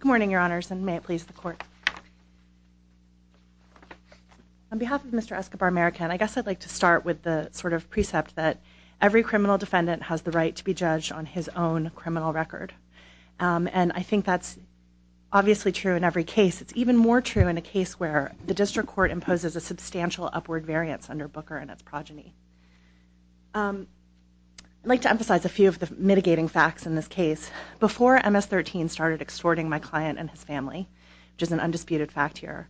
Good morning, your honors, and may it please the court. On behalf of Mr. Escobar-Marroquin, I guess I'd like to start with the sort of precept that every criminal defendant has the right to be judged on his own criminal record. And I think that's obviously true in every case. It's even more true in a case where the district court imposes a substantial upward variance under Booker and its progeny. I'd like to emphasize a few of the mitigating facts in this case. Before MS-13 started extorting my client and his family, which is an undisputed fact here,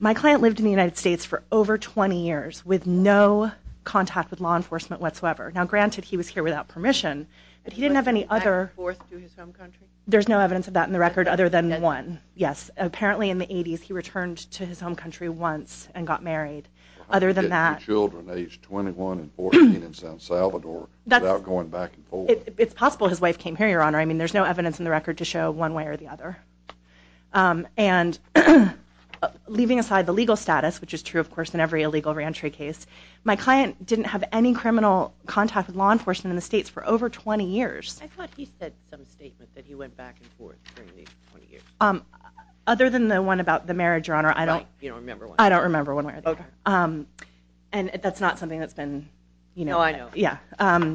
my client lived in the United States for over 20 years with no contact with law enforcement whatsoever. Now, granted, he was here without permission, but he didn't have any other... Back and forth to his home country? There's no evidence of that in the record other than one. Yes, apparently in the 80s he returned to his home country once and got married. Other than that... I'm getting children aged 21 and 14 in San Salvador without going back and forth. It's possible his wife came here, Your Honor. I mean, there's no evidence in the record to show one way or the other. And leaving aside the legal status, which is true, of course, in every illegal re-entry case, my client didn't have any criminal contact with law enforcement in the States for over 20 years. I thought he said some statement that he went back and forth during these 20 years. Other than the one about the marriage, Your Honor, I don't... Right, you don't remember one. I don't remember one way or the other. And that's not something that's been... No, I know. Yeah.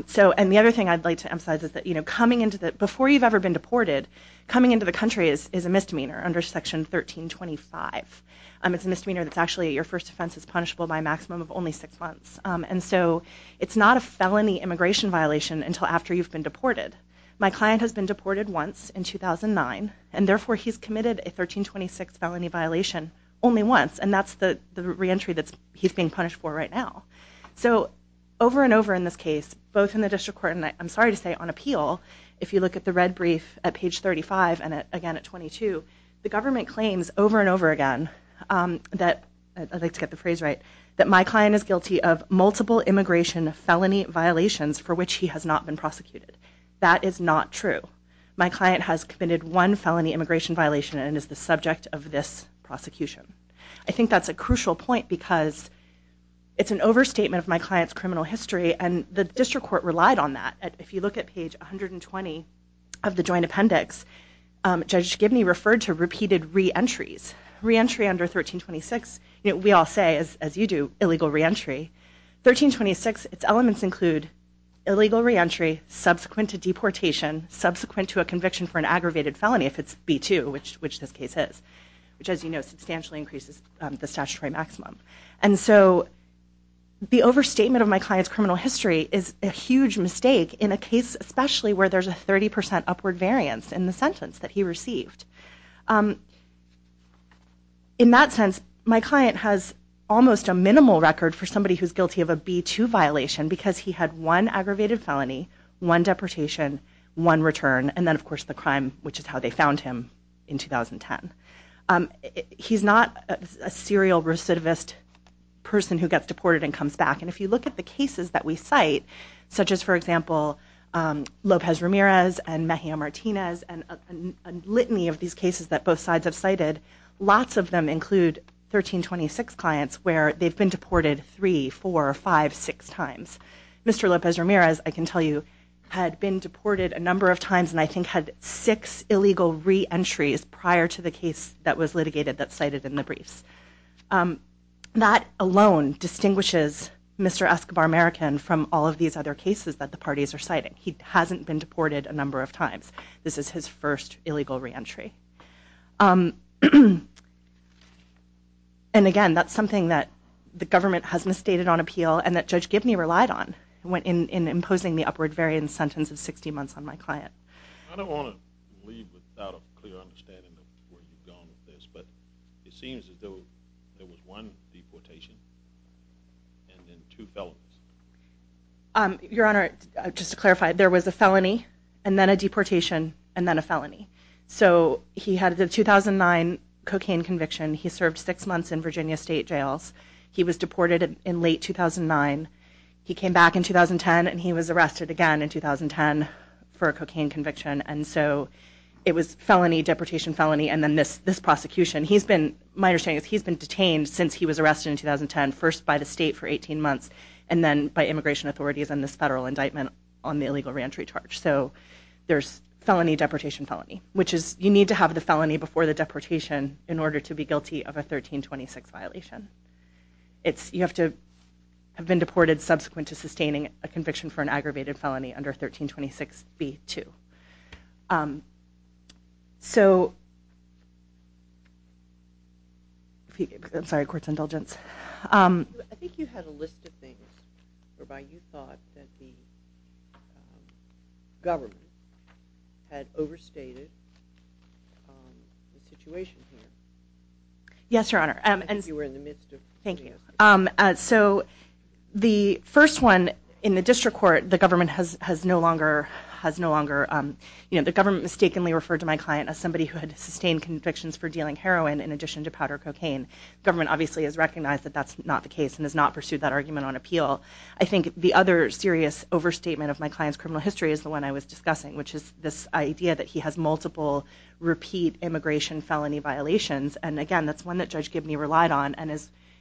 So, and the other thing I'd like to emphasize is that, you know, coming into the... before you've ever been deported, coming into the country is a misdemeanor under Section 1325. It's a misdemeanor that's actually your first offense is punishable by a maximum of only six months. And so it's not a felony immigration violation until after you've been deported. My client has been deported once in 2009, and therefore he's committed a 1326 felony violation only once, and that's the re-entry that he's being punished for right now. So over and over in this case, both in the district court and, I'm sorry to say, on appeal, if you look at the red brief at page 35 and again at 22, the government claims over and over again that, I'd like to get the phrase right, that my client is guilty of multiple immigration felony violations for which he has not been prosecuted. That is not true. My client has committed one felony immigration violation and is the subject of this prosecution. I think that's a crucial point because it's an overstatement of my client's criminal history, and the district court relied on that. If you look at page 120 of the joint appendix, Judge Gibney referred to repeated re-entries. Re-entry under 1326, we all say, as you do, illegal re-entry. 1326, its elements include illegal re-entry subsequent to deportation, subsequent to a conviction for an aggravated felony if it's B-2, which this case is, which, as you know, substantially increases the statutory maximum. And so the overstatement of my client's criminal history is a huge mistake in a case, especially where there's a 30% upward variance in the sentence that he received. In that sense, my client has almost a minimal record for somebody who's guilty of a B-2 violation because he had one aggravated felony, one deportation, one return, and then, of course, the crime, which is how they found him in 2010. He's not a serial recidivist person who gets deported and comes back. And if you look at the cases that we cite, such as, for example, Lopez Ramirez and Mejia Martinez and a litany of these cases that both sides have cited, lots of them include 1326 clients where they've been deported three, four, five, six times. Mr. Lopez Ramirez, I can tell you, had been deported a number of times and I think had six illegal re-entries prior to the case that was litigated that's cited in the briefs. That alone distinguishes Mr. Escobar American from all of these other cases that the parties are citing. He hasn't been deported a number of times. This is his first illegal re-entry. And, again, that's something that the government has misstated on appeal and that Judge Gibney relied on in imposing the upward variance sentence of 60 months on my client. I don't want to leave without a clear understanding of where you've gone with this, but it seems that there was one deportation and then two felonies. Your Honor, just to clarify, there was a felony and then a deportation and then a felony. So he had the 2009 cocaine conviction. He served six months in Virginia state jails. He was deported in late 2009. He came back in 2010 and he was arrested again in 2010 for a cocaine conviction. And so it was felony, deportation, felony, and then this prosecution. My understanding is he's been detained since he was arrested in 2010, first by the state for 18 months and then by immigration authorities on this federal indictment on the illegal re-entry charge. So there's felony, deportation, felony, which is you need to have the felony before the deportation in order to be guilty of a 1326 violation. You have to have been deported subsequent to sustaining a conviction for an aggravated felony under 1326b-2. So, I'm sorry, court's indulgence. I think you had a list of things whereby you thought that the government had overstated the situation here. Yes, Your Honor. I think you were in the midst of putting it. So the first one, in the district court, the government has no longer, the government mistakenly referred to my client as somebody who had sustained convictions for dealing heroin in addition to powder cocaine. Government obviously has recognized that that's not the case and has not pursued that argument on appeal. I think the other serious overstatement of my client's criminal history is the one I was discussing, which is this idea that he has multiple repeat immigration felony violations. And again, that's one that Judge Gibney relied on and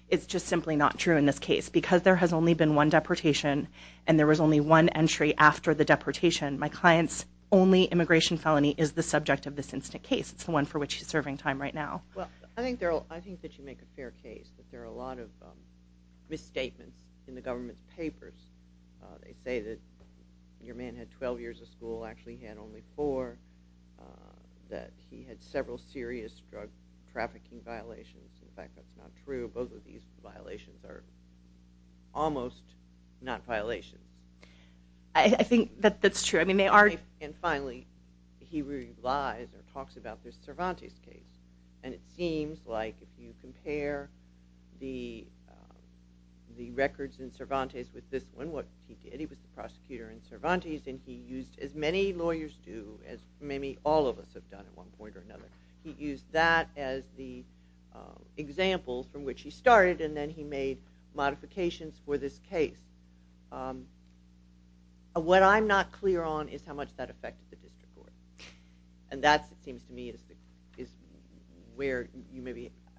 it's just simply not true in this case. Because there has only been one deportation and there was only one entry after the deportation, my client's only immigration felony is the subject of this instant case. It's the one for which he's serving time right now. Well, I think that you make a fair case that there are a lot of misstatements in the government's papers. They say that your man had 12 years of school, actually he had only four, that he had several serious drug trafficking violations. In fact, that's not true. Both of these violations are almost not violations. I think that's true. And finally, he relies or talks about this Cervantes case. And it seems like if you compare the records in Cervantes with this one, what he did, he was the prosecutor in Cervantes and he used as many lawyers do, as maybe all of us have done at one point or another, he used that as the example from which he started and then he made modifications for this case. What I'm not clear on is how much that affected the district court. And that seems to me is where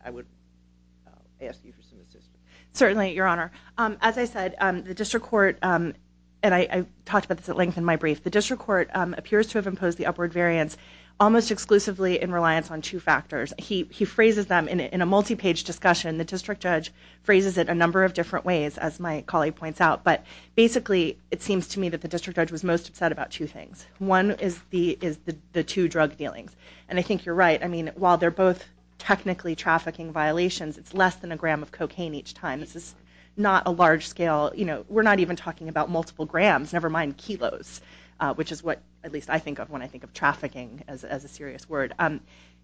I would ask you for some assistance. Certainly, Your Honor. As I said, the district court, and I talked about this at length in my brief, the district court appears to have imposed the upward variance almost exclusively in reliance on two factors. He phrases them in a multi-page discussion. The district judge phrases it a number of different ways, as my colleague points out. But basically, it seems to me that the district judge was most upset about two things. One is the two drug dealings. And I think you're right. While they're both technically trafficking violations, it's less than a gram of cocaine each time. This is not a large scale. We're not even talking about multiple grams, never mind kilos, which is what at least I think of when I think of trafficking as a serious word.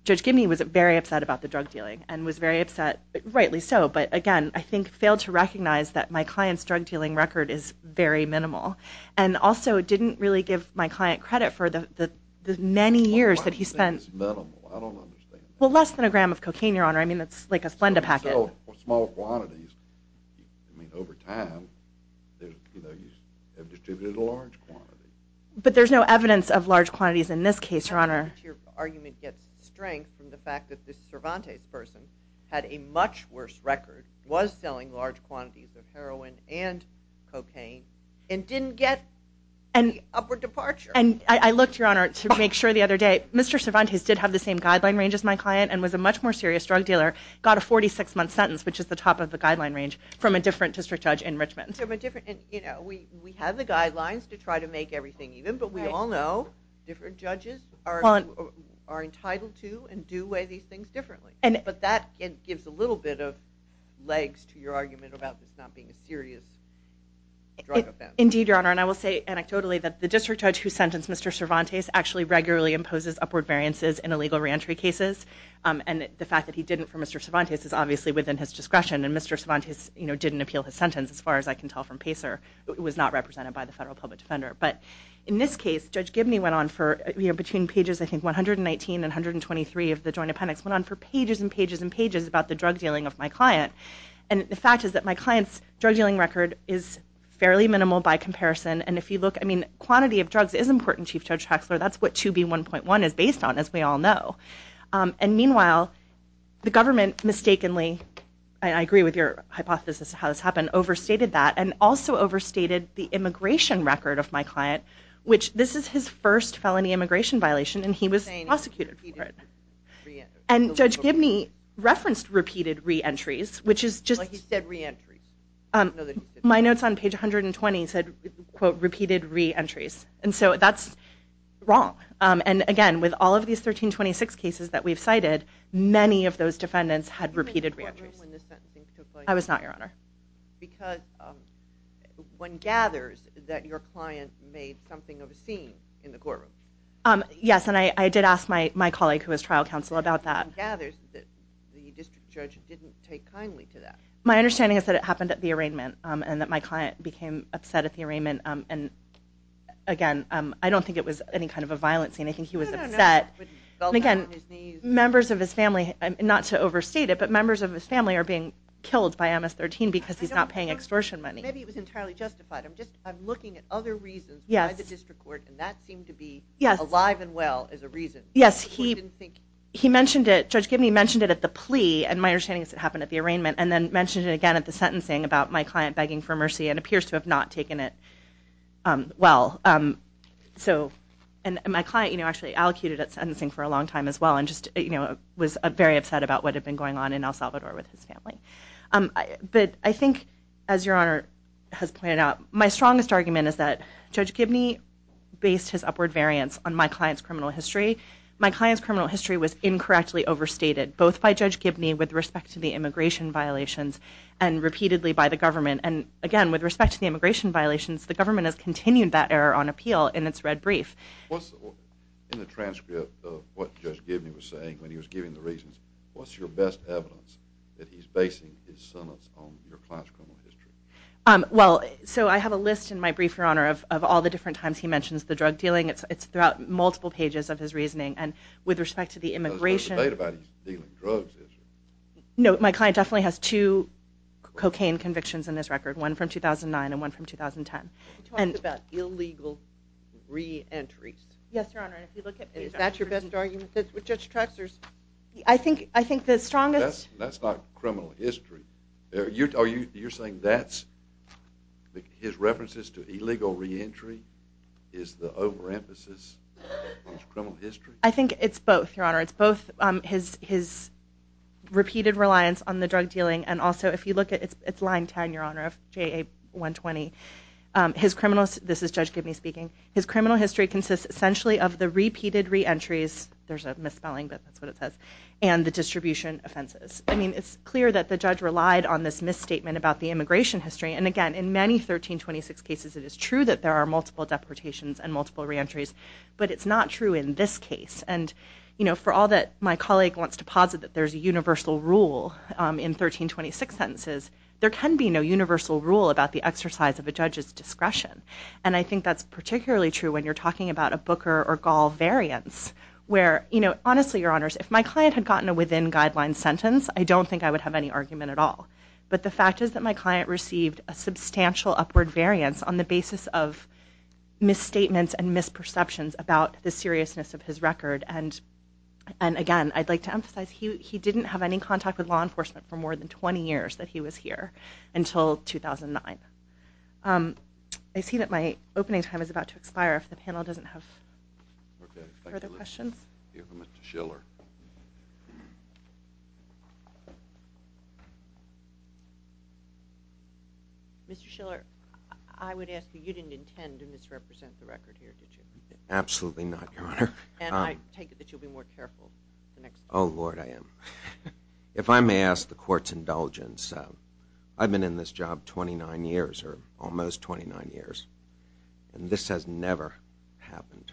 Judge Gibney was very upset about the drug dealing and was very upset, rightly so. But again, I think failed to recognize that my client's drug dealing record is very minimal. And also didn't really give my client credit for the many years that he spent. Well, why do you think it's minimal? I don't understand that. Well, less than a gram of cocaine, Your Honor. I mean, that's like a Splenda packet. Small quantities. I mean, over time, you know, you have distributed a large quantity. But there's no evidence of large quantities in this case, Your Honor. Your argument gets strength from the fact that this Cervantes person had a much worse record, was selling large quantities of heroin and cocaine, and didn't get the upward departure. And I looked, Your Honor, to make sure the other day. Mr. Cervantes did have the same guideline range as my client and was a much more serious drug dealer, got a 46-month sentence, which is the top of the guideline range, from a different district judge in Richmond. You know, we have the guidelines to try to make everything even, but we all know different judges are entitled to and do weigh these things differently. But that gives a little bit of legs to your argument about this not being a serious drug offense. Indeed, Your Honor. And I will say anecdotally that the district judge who sentenced Mr. Cervantes actually regularly imposes upward variances in illegal reentry cases. And the fact that he didn't for Mr. Cervantes is obviously within his discretion. And Mr. Cervantes, you know, didn't appeal his sentence, as far as I can tell from Pacer. It was not represented by the federal public defender. But in this case, Judge Gibney went on for, you know, between pages, I think, 119 and 123 of the Joint Appendix, went on for pages and pages and pages about the drug dealing of my client. And the fact is that my client's drug dealing record is fairly minimal by comparison. And if you look, I mean, quantity of drugs is important, Chief Judge Haxler. That's what 2B1.1 is based on, as we all know. And meanwhile, the government mistakenly, and I agree with your hypothesis how this happened, overstated that and also overstated the immigration record of my client, which this is his first felony immigration violation, and he was prosecuted for it. And Judge Gibney referenced repeated reentries, which is just... He said reentries. My notes on page 120 said, quote, repeated reentries. And so that's wrong. And again, with all of these 1326 cases that we've cited, many of those defendants had repeated reentries. I was not, Your Honor. Yes, and I did ask my colleague who was trial counsel about that. My understanding is that it happened at the arraignment and that my client became upset at the arraignment. And, again, I don't think it was any kind of a violent scene. I think he was upset. But, again, members of his family, not to overstate it, but members of his family are being killed by MS-13 because he's not paying extortion money. Maybe it was entirely justified. I'm looking at other reasons by the district court, and that seemed to be alive and well as a reason. Yes, he mentioned it. Judge Gibney mentioned it at the plea, and my understanding is it happened at the arraignment, and then mentioned it again at the sentencing about my client begging for mercy and appears to have not taken it well. And my client actually allocated at sentencing for a long time as well and was very upset about what had been going on in El Salvador with his family. But I think, as Your Honor has pointed out, my strongest argument is that Judge Gibney based his upward variance on my client's criminal history. My client's criminal history was incorrectly overstated, both by Judge Gibney with respect to the immigration violations and repeatedly by the government. And again, with respect to the immigration violations, the government has continued that error on appeal in its red brief. In the transcript of what Judge Gibney was saying when he was giving the reasons, what's your best evidence that he's basing his sentence on your client's criminal history? Well, so I have a list in my brief, Your Honor, of all the different times he mentions the drug dealing. It's throughout multiple pages of his reasoning, and with respect to the immigration— There's no debate about his dealing drugs, is there? No, my client definitely has two cocaine convictions in his record, one from 2009 and one from 2010. He talks about illegal re-entries. Yes, Your Honor, and if you look at— Is that your best argument with Judge Trexler's? I think the strongest— That's not criminal history. You're saying that's—his references to illegal re-entry is the overemphasis of his criminal history? I think it's both, Your Honor. It's both his repeated reliance on the drug dealing, and also if you look at— It's line 10, Your Honor, of JA-120. His criminal—this is Judge Gibney speaking. His criminal history consists essentially of the repeated re-entries— There's a misspelling, but that's what it says—and the distribution offenses. I mean, it's clear that the judge relied on this misstatement about the immigration history, and again, in many 1326 cases it is true that there are multiple deportations and multiple re-entries, but it's not true in this case. And, you know, for all that my colleague wants to posit that there's a universal rule in 1326 sentences, there can be no universal rule about the exercise of a judge's discretion, and I think that's particularly true when you're talking about a Booker or Gall variance, where, you know, honestly, Your Honors, if my client had gotten a within-guidelines sentence, I don't think I would have any argument at all, but the fact is that my client received a substantial upward variance on the basis of misstatements and misperceptions about the seriousness of his record, and again, I'd like to emphasize he didn't have any contact with law enforcement for more than 20 years that he was here until 2009. I see that my opening time is about to expire if the panel doesn't have further questions. Okay. Thank you, Liz. We'll hear from Mr. Schiller. Mr. Schiller, I would ask you, you didn't intend to misrepresent the record here, did you? Absolutely not, Your Honor. And I take it that you'll be more careful the next time. Oh, Lord, I am. If I may ask the Court's indulgence, I've been in this job 29 years, or almost 29 years, and this has never happened.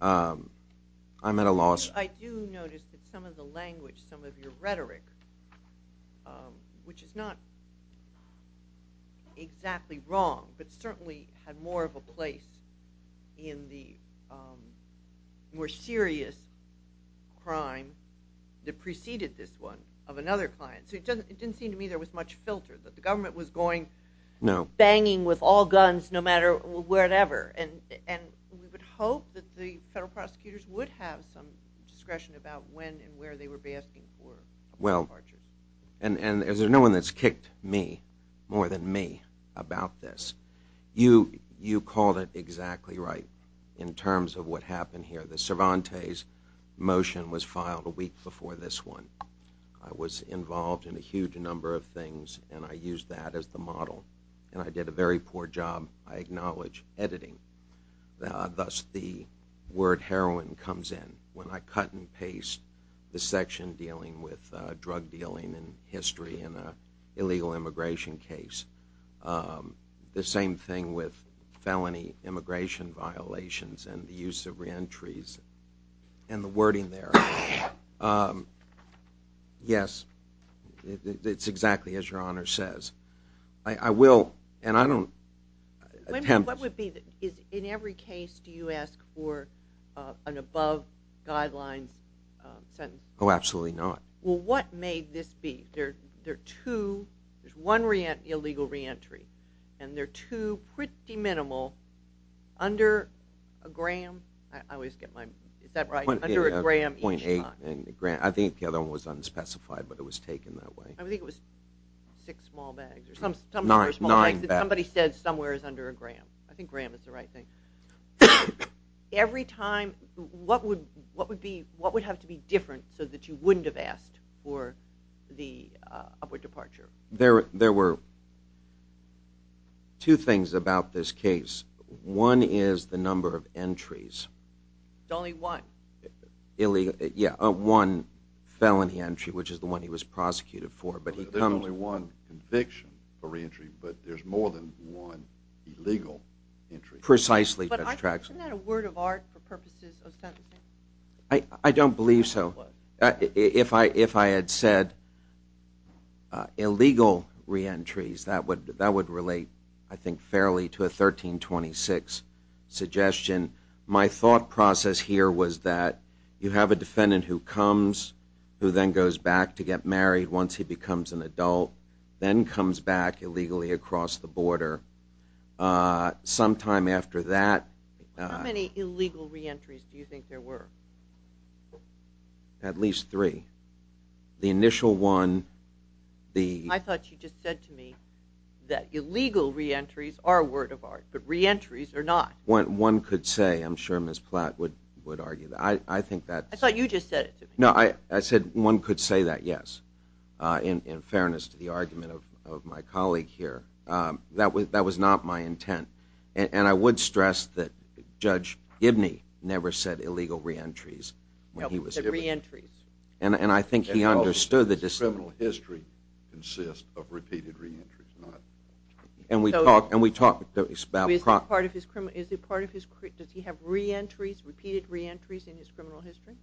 I'm at a loss of words. I do notice that some of the language, some of your rhetoric, which is not exactly wrong, but certainly had more of a place in the more serious crime that preceded this one of another client. So it didn't seem to me there was much filter, that the government was going banging with all guns, no matter whatever, and we would hope that the federal prosecutors would have some discretion about when and where they would be asking for departure. And there's no one that's kicked me, more than me, about this. You called it exactly right in terms of what happened here. The Cervantes motion was filed a week before this one. I was involved in a huge number of things, and I used that as the model, and I did a very poor job, I acknowledge, editing. Thus the word heroin comes in. When I cut and paste the section dealing with drug dealing and history in an illegal immigration case, the same thing with felony immigration violations and the use of reentries and the wording there. Yes, it's exactly as Your Honor says. I will, and I don't attempt. What would be, in every case do you ask for an above guidelines sentence? Oh, absolutely not. Well, what may this be? There are two, there's one illegal reentry, and there are two pretty minimal, under a gram. I always get my, is that right? Under a gram. I think the other one was unspecified, but it was taken that way. I think it was six small bags or something. Nine bags. Somebody said somewhere is under a gram. I think gram is the right thing. Every time, what would have to be different so that you wouldn't have asked for the upward departure? There were two things about this case. One is the number of entries. There's only one. Yeah, one felony entry, which is the one he was prosecuted for. There's only one conviction for reentry, but there's more than one illegal entry. Precisely. Isn't that a word of art for purposes of sentencing? I don't believe so. If I had said illegal reentries, that would relate, I think, fairly to a 1326 suggestion. My thought process here was that you have a defendant who comes, who then goes back to get married once he becomes an adult, then comes back illegally across the border. Sometime after that— How many illegal reentries do you think there were? At least three. The initial one, the— I thought you just said to me that illegal reentries are a word of art, but reentries are not. One could say—I'm sure Ms. Platt would argue that. I think that— I thought you just said it to me. No, I said one could say that, yes, in fairness to the argument of my colleague here. That was not my intent. And I would stress that Judge Gibney never said illegal reentries when he was— No, he said reentries. And I think he understood the— Criminal history consists of repeated reentries, not— And we talked about— Is it part of his—does he have reentries, repeated reentries in his criminal history?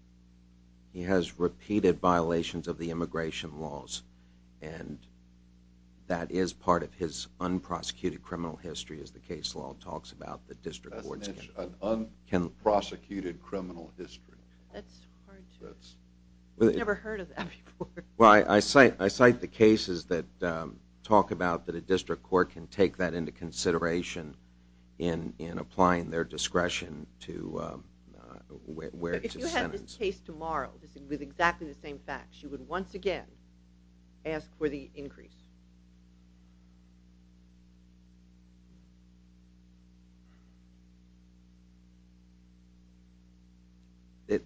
He has repeated violations of the immigration laws, and that is part of his unprosecuted criminal history, as the case law talks about that district courts can— Unprosecuted criminal history. That's hard to— We've never heard of that before. Well, I cite the cases that talk about that a district court can take that into consideration in applying their discretion to where it's sentenced. If you had this case tomorrow with exactly the same facts, you would once again ask for the increase.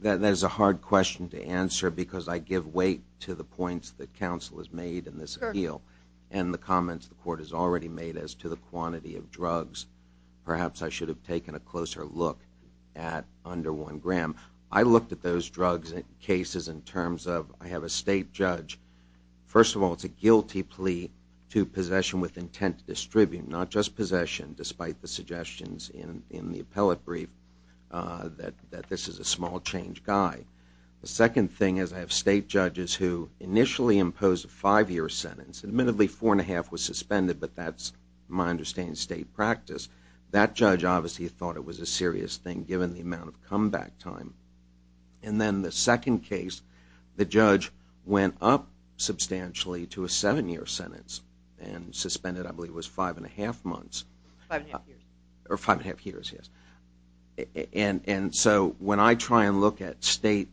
That is a hard question to answer, because I give weight to the points that counsel has made in this appeal and the comments the court has already made as to the quantity of drugs. Perhaps I should have taken a closer look at under one gram. I looked at those drugs and cases in terms of— I have a state judge. First of all, it's a guilty plea. to possession with intent to distribute, not just possession, despite the suggestions in the appellate brief that this is a small-change guy. The second thing is I have state judges who initially impose a five-year sentence. Admittedly, four and a half was suspended, but that's, my understanding, state practice. That judge obviously thought it was a serious thing, given the amount of comeback time. Then the second case, the judge went up substantially to a seven-year sentence and suspended, I believe, it was five and a half months. Five and a half years. Or five and a half years, yes. When I try and look at state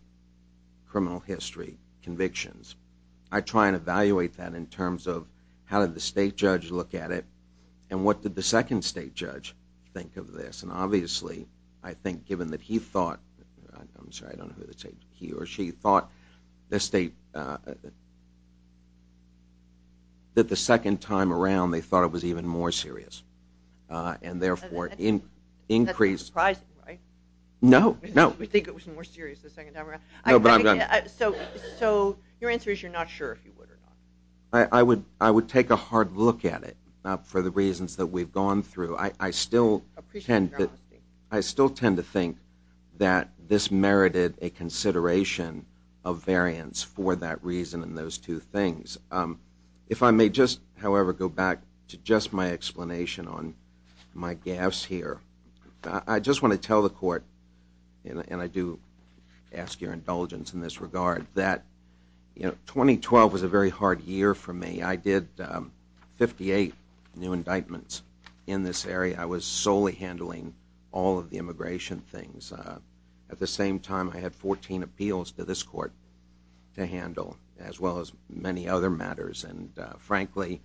criminal history convictions, I try and evaluate that in terms of how did the state judge look at it and what did the second state judge think of this. Obviously, I think given that he thought—I'm sorry, I don't know who to say he or she— thought that the second time around they thought it was even more serious and therefore increased— That's surprising, right? No, no. We think it was more serious the second time around. No, but I'm not— So your answer is you're not sure if you would or not. I would take a hard look at it for the reasons that we've gone through. I still tend to think that this merited a consideration of variance for that reason and those two things. If I may just, however, go back to just my explanation on my gaps here. I just want to tell the court, and I do ask your indulgence in this regard, that 2012 was a very hard year for me. I did 58 new indictments in this area. I was solely handling all of the immigration things. At the same time, I had 14 appeals to this court to handle as well as many other matters. Frankly,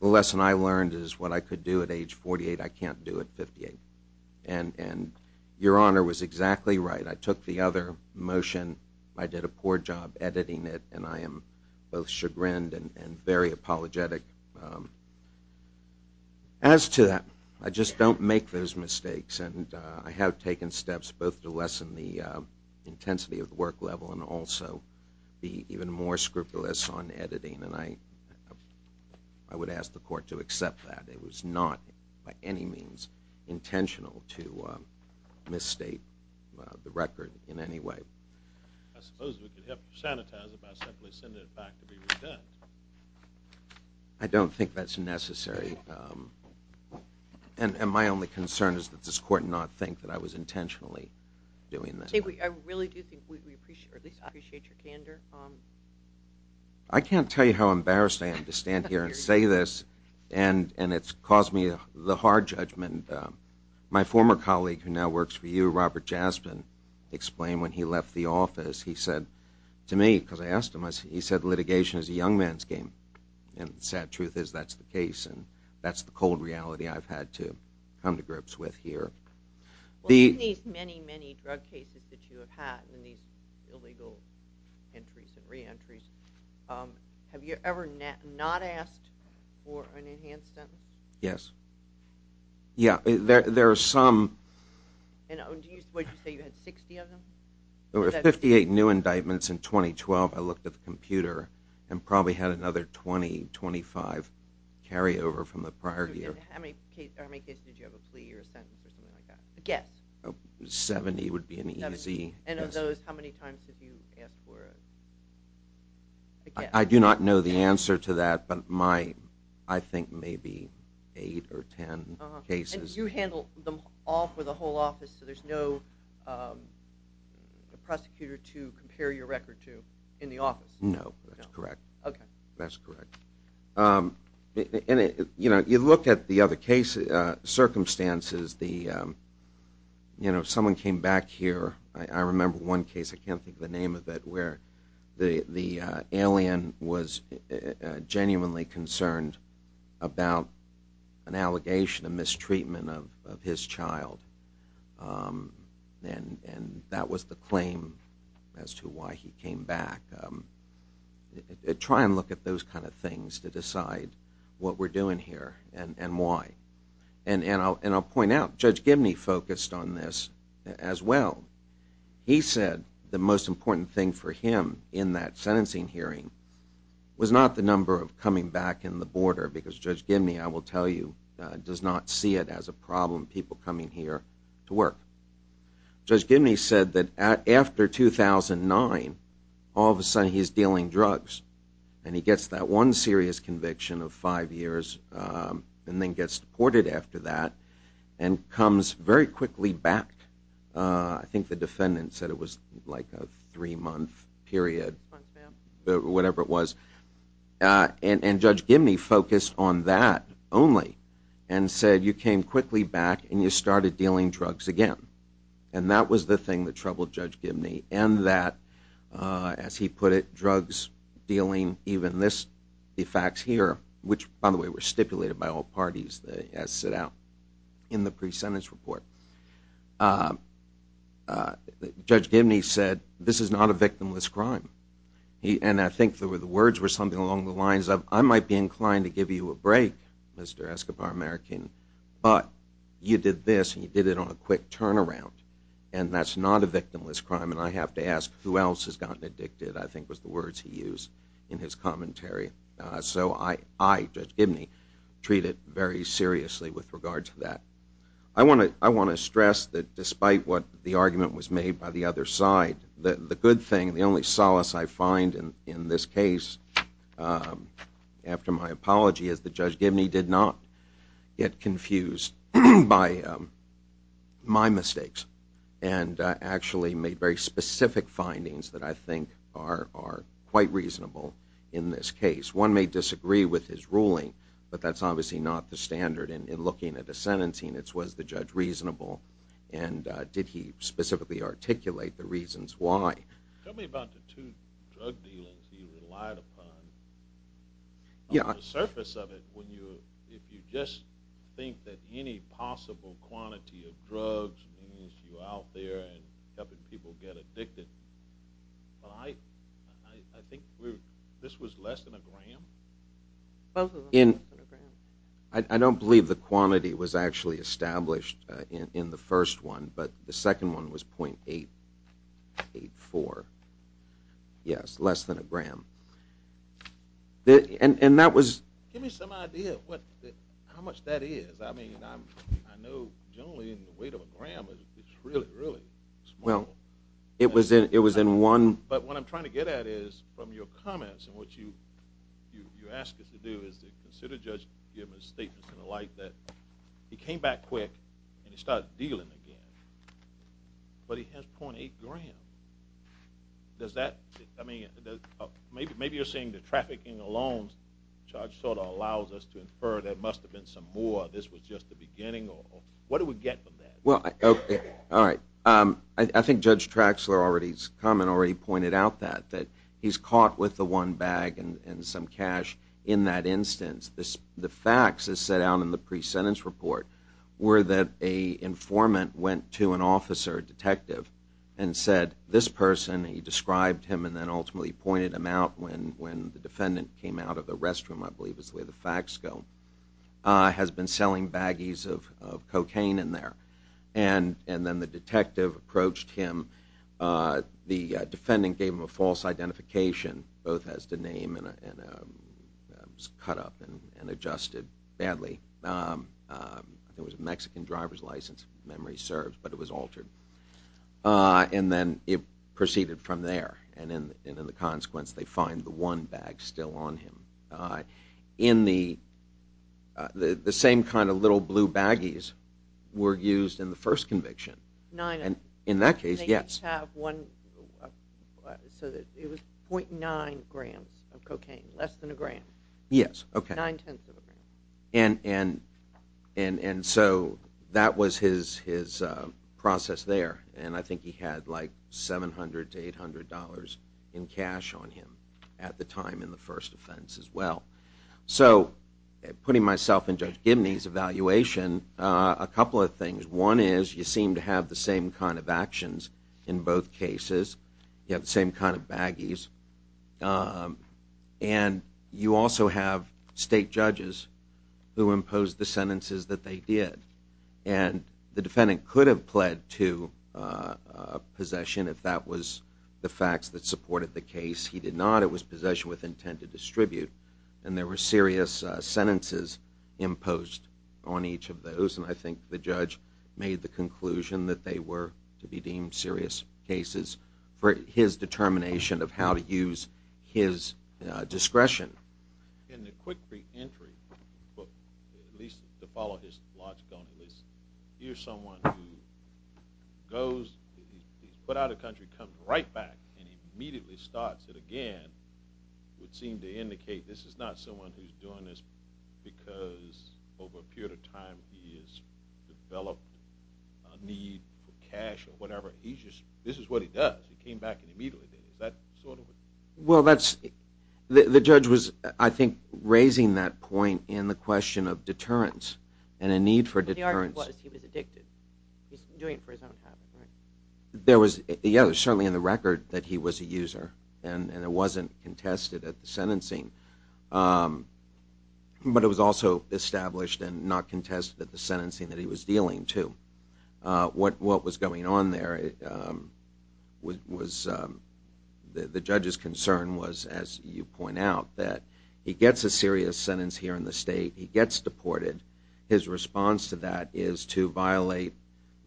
the lesson I learned is what I could do at age 48 I can't do at 58. Your Honor was exactly right. I took the other motion. I did a poor job editing it, and I am both chagrined and very apologetic. As to that, I just don't make those mistakes, and I have taken steps both to lessen the intensity of the work level and also be even more scrupulous on editing. I would ask the court to accept that. It was not by any means intentional to misstate the record in any way. I suppose we could help sanitize it by simply sending it back to be redone. I don't think that's necessary, and my only concern is that this court not think that I was intentionally doing that. I really do think we appreciate your candor. I can't tell you how embarrassed I am to stand here and say this, and it's caused me the hard judgment. My former colleague who now works for you, Robert Jaspin, explained when he left the office, he said to me, because I asked him, he said litigation is a young man's game, and the sad truth is that's the case, and that's the cold reality I've had to come to grips with here. In these many, many drug cases that you have had, in these illegal entries and reentries, have you ever not asked for an enhanced sentence? Yes. There are some. Would you say you had 60 of them? There were 58 new indictments in 2012. I looked at the computer and probably had another 20, 25 carryover from the prior year. How many cases did you have a plea or a sentence or something like that? A guess. 70 would be an easy guess. And of those, how many times did you ask for a guess? I do not know the answer to that, but I think maybe eight or ten cases. And you handle them all for the whole office, so there's no prosecutor to compare your record to in the office? No, that's correct. That's correct. You look at the other circumstances. Someone came back here. I remember one case, I can't think of the name of it, where the alien was genuinely concerned about an allegation, a mistreatment of his child. And that was the claim as to why he came back. Try and look at those kind of things to decide what we're doing here and why. And I'll point out, Judge Gimney focused on this as well. He said the most important thing for him in that sentencing hearing was not the number of coming back in the border, because Judge Gimney, I will tell you, does not see it as a problem, people coming here to work. Judge Gimney said that after 2009, all of a sudden he's dealing drugs, and he gets that one serious conviction of five years and then gets deported after that and comes very quickly back. I think the defendant said it was like a three-month period, whatever it was. And Judge Gimney focused on that only and said, you came quickly back and you started dealing drugs again. And that was the thing that troubled Judge Gimney, and that, as he put it, drugs, dealing, even this, the facts here, which, by the way, were stipulated by all parties as set out in the pre-sentence report. Judge Gimney said, this is not a victimless crime. And I think the words were something along the lines of, I might be inclined to give you a break, Mr. Escobar-American, but you did this and you did it on a quick turnaround, and that's not a victimless crime, and I have to ask who else has gotten addicted, I think was the words he used in his commentary. So I, Judge Gimney, treat it very seriously with regard to that. I want to stress that despite what the argument was made by the other side, the good thing, the only solace I find in this case, after my apology, is that Judge Gimney did not get confused by my mistakes and actually made very specific findings that I think are quite reasonable in this case. One may disagree with his ruling, but that's obviously not the standard in looking at a sentencing. It was the judge reasonable, and did he specifically articulate the reasons why. Tell me about the two drug dealings he relied upon. On the surface of it, if you just think that any possible quantity of drugs means you're out there helping people get addicted, I think this was less than a gram? I don't believe the quantity was actually established in the first one, but the second one was .884. Yes, less than a gram. Give me some idea of how much that is. I know generally the weight of a gram is really, really small. But what I'm trying to get at is from your comments and what you ask us to do is to consider Judge Gimney's statements and the like that he came back quick and he started dealing again, but he has .8 grams. Maybe you're saying the trafficking alone sort of allows us to infer there must have been some more, this was just the beginning. What do we get from that? I think Judge Traxler's comment already pointed out that. He's caught with the one bag and some cash in that instance. The facts, as set out in the pre-sentence report, were that an informant went to an officer, a detective, and said, this person, he described him and then ultimately pointed him out when the defendant came out of the restroom, I believe is where the facts go, has been selling baggies of cocaine in there. And then the detective approached him. The defendant gave him a false identification, both as the name and was cut up and adjusted badly. It was a Mexican driver's license, memory serves, but it was altered. And then it proceeded from there. And in the consequence, they find the one bag still on him. The same kind of little blue baggies were used in the first conviction. In that case, yes. So it was .9 grams of cocaine, less than a gram. Yes, okay. Nine-tenths of a gram. And so that was his process there. And I think he had like $700 to $800 in cash on him at the time in the first offense as well. So putting myself in Judge Gibney's evaluation, a couple of things. One is you seem to have the same kind of actions in both cases. You have the same kind of baggies. And you also have state judges who imposed the sentences that they did. And the defendant could have pled to possession if that was the facts that supported the case. He did not. It was possession with intent to distribute. And there were serious sentences imposed on each of those. And I think the judge made the conclusion that they were to be deemed serious cases for his determination of how to use his discretion. In the quick free entry, at least to follow his logic on this, here's someone who goes, he's put out of the country, comes right back and immediately starts it again. It would seem to indicate this is not someone who's doing this because over a period of time he has developed a need for cash or whatever. This is what he does. He came back and immediately did it. Is that sort of it? Well, the judge was, I think, raising that point in the question of deterrence and a need for deterrence. The argument was he was addicted. He was doing it for his own happiness. There was certainly in the record that he was a user and it wasn't contested at the sentencing. But it was also established and not contested at the sentencing that he was dealing to. What was going on there was the judge's concern was, as you point out, that he gets a serious sentence here in the state, he gets deported. His response to that is to violate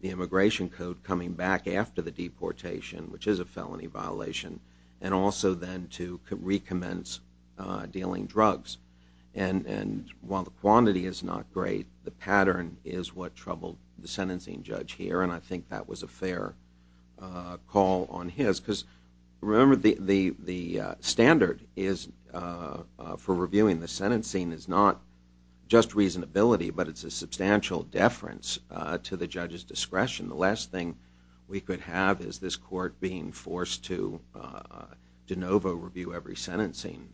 the immigration code coming back after the deportation, which is a felony violation, and also then to recommence dealing drugs. And while the quantity is not great, the pattern is what troubled the sentencing judge here, and I think that was a fair call on his. Because remember, the standard for reviewing the sentencing is not just reasonability, but it's a substantial deference to the judge's discretion. The last thing we could have is this court being forced to de novo review every sentencing,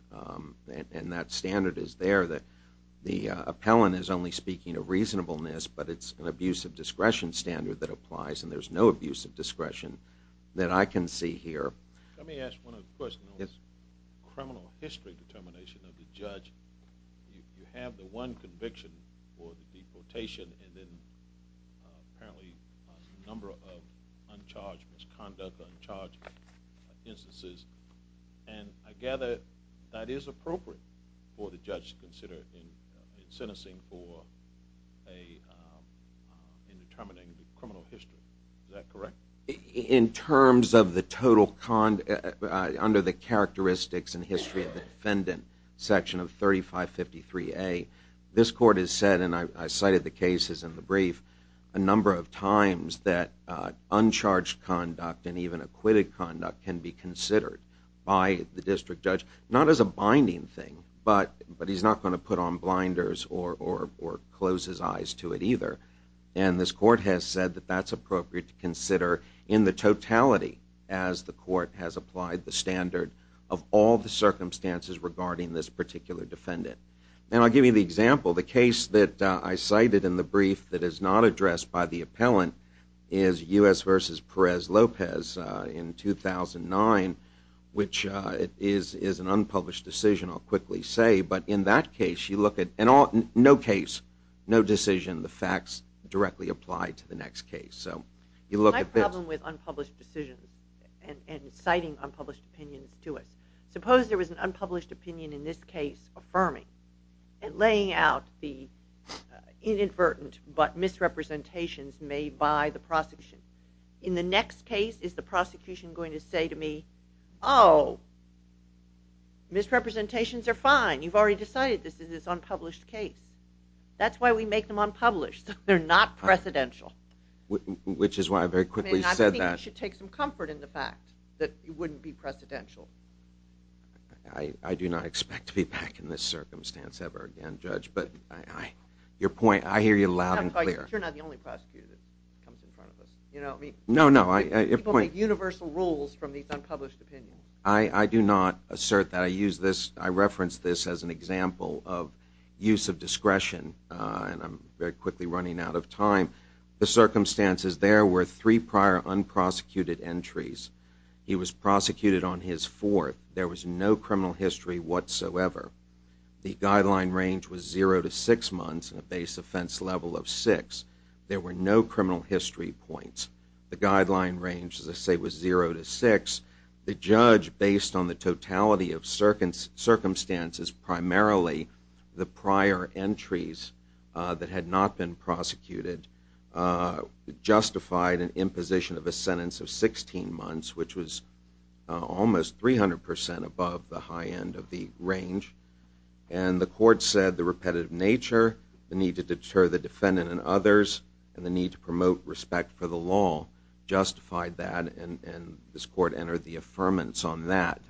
and that standard is there. The appellant is only speaking of reasonableness, but it's an abuse of discretion standard that applies, and there's no abuse of discretion that I can see here. Let me ask one other question. Criminal history determination of the judge, you have the one conviction for the deportation and then apparently a number of uncharged misconduct, uncharged instances, and I gather that is appropriate for the judge to consider in sentencing for determining the criminal history. Is that correct? In terms of the total, under the characteristics and history of the defendant, section of 3553A, this court has said, and I cited the cases in the brief, a number of times that uncharged conduct and even acquitted conduct can be considered by the district judge, not as a binding thing, but he's not going to put on blinders or close his eyes to it either. And this court has said that that's appropriate to consider in the totality as the court has applied the standard of all the circumstances regarding this particular defendant. And I'll give you the example. The case that I cited in the brief that is not addressed by the appellant is U.S. v. Perez-Lopez in 2009, which is an unpublished decision, I'll quickly say, but in that case you look at, no case, no decision, the facts directly apply to the next case. My problem with unpublished decisions and citing unpublished opinions to us, suppose there was an unpublished opinion in this case affirming and laying out the inadvertent but misrepresentations made by the prosecution. In the next case, is the prosecution going to say to me, oh, misrepresentations are fine. You've already decided this is an unpublished case. That's why we make them unpublished. They're not precedential. Which is why I very quickly said that. You should take some comfort in the fact that it wouldn't be precedential. I do not expect to be back in this circumstance ever again, Judge, but your point, I hear you loud and clear. You're not the only prosecutor that comes in front of us. No, no. People make universal rules from these unpublished opinions. I do not assert that. I reference this as an example of use of discretion, and I'm very quickly running out of time. The circumstances there were three prior unprosecuted entries he was prosecuted on his fourth. There was no criminal history whatsoever. The guideline range was zero to six months and a base offense level of six. There were no criminal history points. The guideline range, as I say, was zero to six. The judge, based on the totality of circumstances, primarily the prior entries that had not been prosecuted, justified an imposition of a sentence of 16 months, which was almost 300% above the high end of the range, and the court said the repetitive nature, the need to deter the defendant and others, and the need to promote respect for the law justified that, and this court entered the affirmance on that.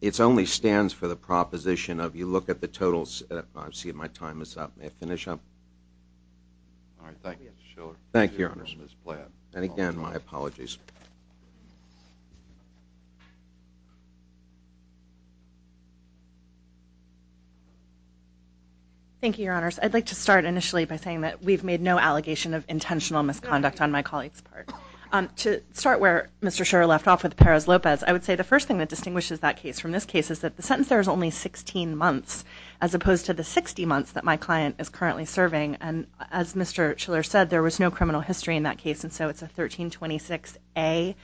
It only stands for the proposition of you look at the totals. I see my time is up. May I finish up? All right. Thank you, Mr. Shiller. Thank you, Your Honors. Ms. Platt. And again, my apologies. Thank you, Your Honors. I'd like to start initially by saying that we've made no allegation of intentional misconduct on my colleague's part. To start where Mr. Shiller left off with Perez-Lopez, I would say the first thing that distinguishes that case from this case is that the sentence there is only 16 months, as opposed to the 60 months that my client is currently serving, and as Mr. Shiller said, there was no criminal history in that case, and so it's a 1326A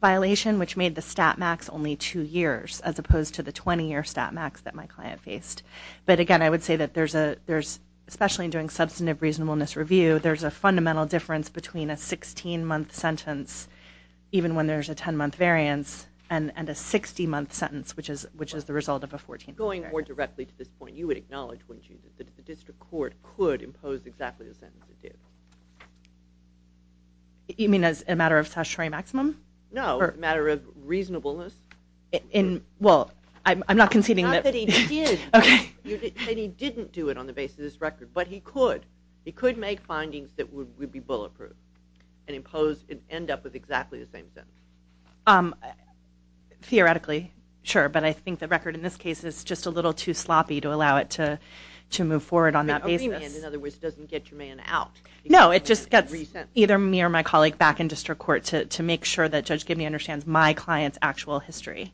violation, which made the stat max only two years, as opposed to the 20-year stat max that my client faced. But again, I would say that there's, especially in doing substantive reasonableness review, there's a fundamental difference between a 16-month sentence, even when there's a 10-month variance, and a 60-month sentence, which is the result of a 14th paragraph. Going more directly to this point, you would acknowledge, wouldn't you, that the district court could impose exactly the sentence it did? You mean as a matter of statutory maximum? No, as a matter of reasonableness. Well, I'm not conceding that. Not that he did. Okay. You're saying he didn't do it on the basis of this record, but he could. He could make findings that would be bulletproof and end up with exactly the same sentence. Theoretically, sure, but I think the record in this case is just a little too sloppy to allow it to move forward on that basis. In other words, it doesn't get your man out. No, it just gets either me or my colleague back in district court to make sure that Judge Gibney understands my client's actual history.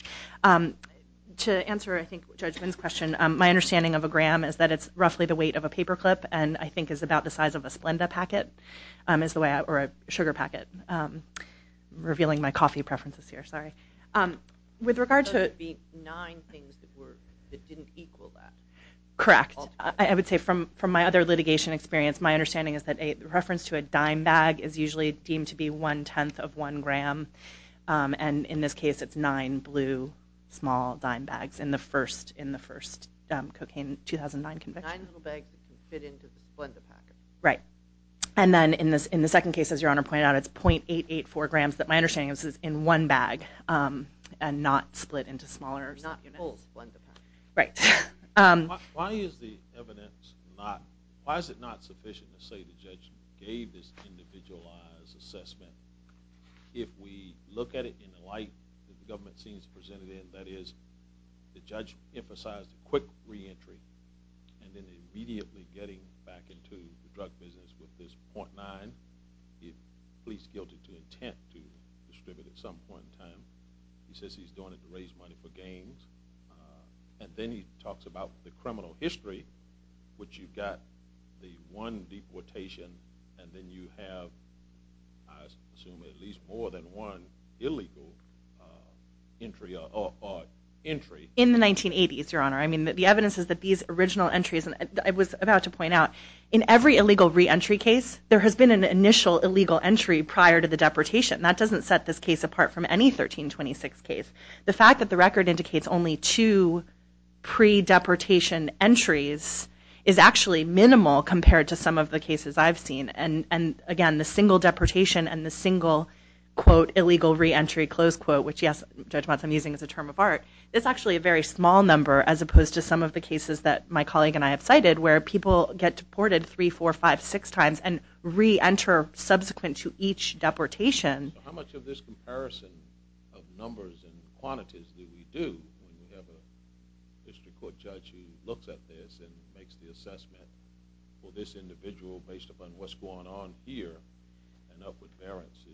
To answer, I think, Judge Wynn's question, my understanding of a gram is that it's roughly the weight of a paperclip and I think is about the size of a Splenda packet or a sugar packet. Revealing my coffee preferences here, sorry. With regard to the nine things that didn't equal that. Correct. I would say from my other litigation experience, my understanding is that a reference to a dime bag is usually deemed to be one-tenth of one gram, and in this case it's nine blue small dime bags in the first cocaine 2009 conviction. Nine little bags that can fit into the Splenda packet. Right. And then in the second case, as Your Honor pointed out, it's .884 grams that my understanding is is in one bag and not split into smaller units. Not whole Splenda packets. Right. Why is the evidence not, why is it not sufficient to say the judge gave this individualized assessment if we look at it in the light that the government seems to present it in, that is, the judge emphasized a quick reentry and then immediately getting back into the drug business with this .9. He pleads guilty to intent to distribute at some point in time. He says he's doing it to raise money for games. And then he talks about the criminal history, which you've got the one deportation and then you have, I assume, at least more than one illegal entry. In the 1980s, Your Honor. The evidence is that these original entries, and I was about to point out, in every illegal reentry case, there has been an initial illegal entry prior to the deportation. That doesn't set this case apart from any 1326 case. The fact that the record indicates only two pre-deportation entries is actually minimal compared to some of the cases I've seen. And, again, the single deportation and the single, quote, illegal reentry, close quote, which, yes, Judge Motz, I'm using as a term of art, it's actually a very small number as opposed to some of the cases that my colleague and I have cited where people get deported three, four, five, six times and re-enter subsequent to each deportation. How much of this comparison of numbers and quantities do we do when we have a district court judge who looks at this and makes the assessment for this individual based upon what's going on here and up with variances?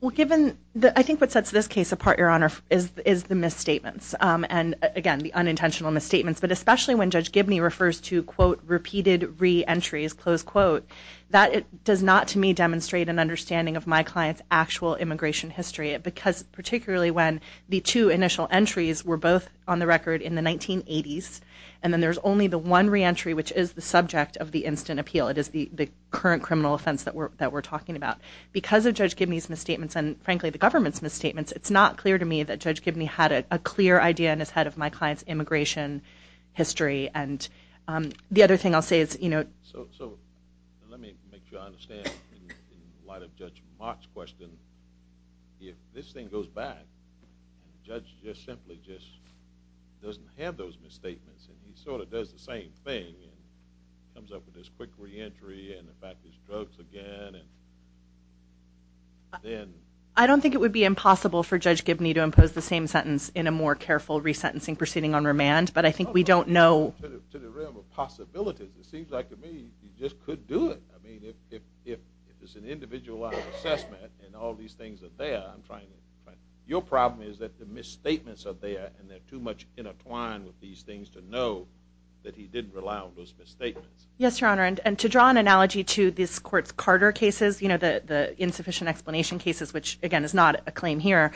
Well, given, I think what sets this case apart, Your Honor, is the misstatements. And, again, the unintentional misstatements, but especially when Judge Gibney refers to, quote, repeated re-entries, close quote, that does not to me demonstrate an understanding of my client's actual immigration history, because particularly when the two initial entries were both on the record in the 1980s and then there's only the one re-entry which is the subject of the instant appeal, it is the current criminal offense that we're talking about. Because of Judge Gibney's misstatements and, frankly, the government's misstatements, it's not clear to me that Judge Gibney had a clear idea in his head of my client's immigration history. And the other thing I'll say is, you know... So let me make sure I understand, in light of Judge Mark's question, if this thing goes back, the judge just simply just doesn't have those misstatements and he sort of does the same thing and comes up with this quick re-entry and in fact there's drugs again and then... I don't think it would be impossible for Judge Gibney to impose the same sentence in a more careful resentencing proceeding on remand, but I think we don't know... To the realm of possibilities, it seems like to me he just could do it. I mean, if it's an individualized assessment and all these things are there, I'm trying to... Your problem is that the misstatements are there and they're too much intertwined with these things to know that he didn't allow those misstatements. Yes, Your Honor, and to draw an analogy to this court's Carter cases, the insufficient explanation cases, which again is not a claim here,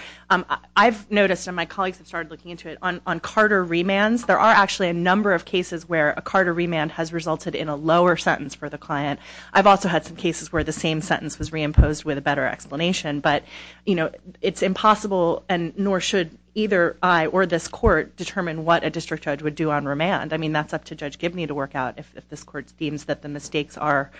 I've noticed, and my colleagues have started looking into it, on Carter remands, there are actually a number of cases where a Carter remand has resulted in a lower sentence for the client. I've also had some cases where the same sentence was reimposed with a better explanation, but it's impossible and nor should either I or this court determine what a district judge would do on remand. I mean, that's up to Judge Gibney to work out if this court deems that the mistakes are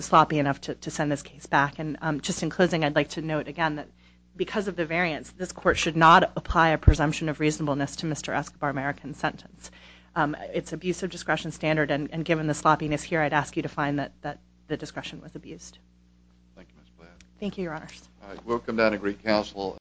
sloppy enough to send this case back. And just in closing, I'd like to note again that because of the variance, this court should not apply a presumption of reasonableness to Mr. Escobar's American sentence. It's abuse of discretion standard, and given the sloppiness here, I'd ask you to find that the discretion was abused. Thank you, Ms. Blair. Thank you, Your Honors. All right, welcome down to Greek Council.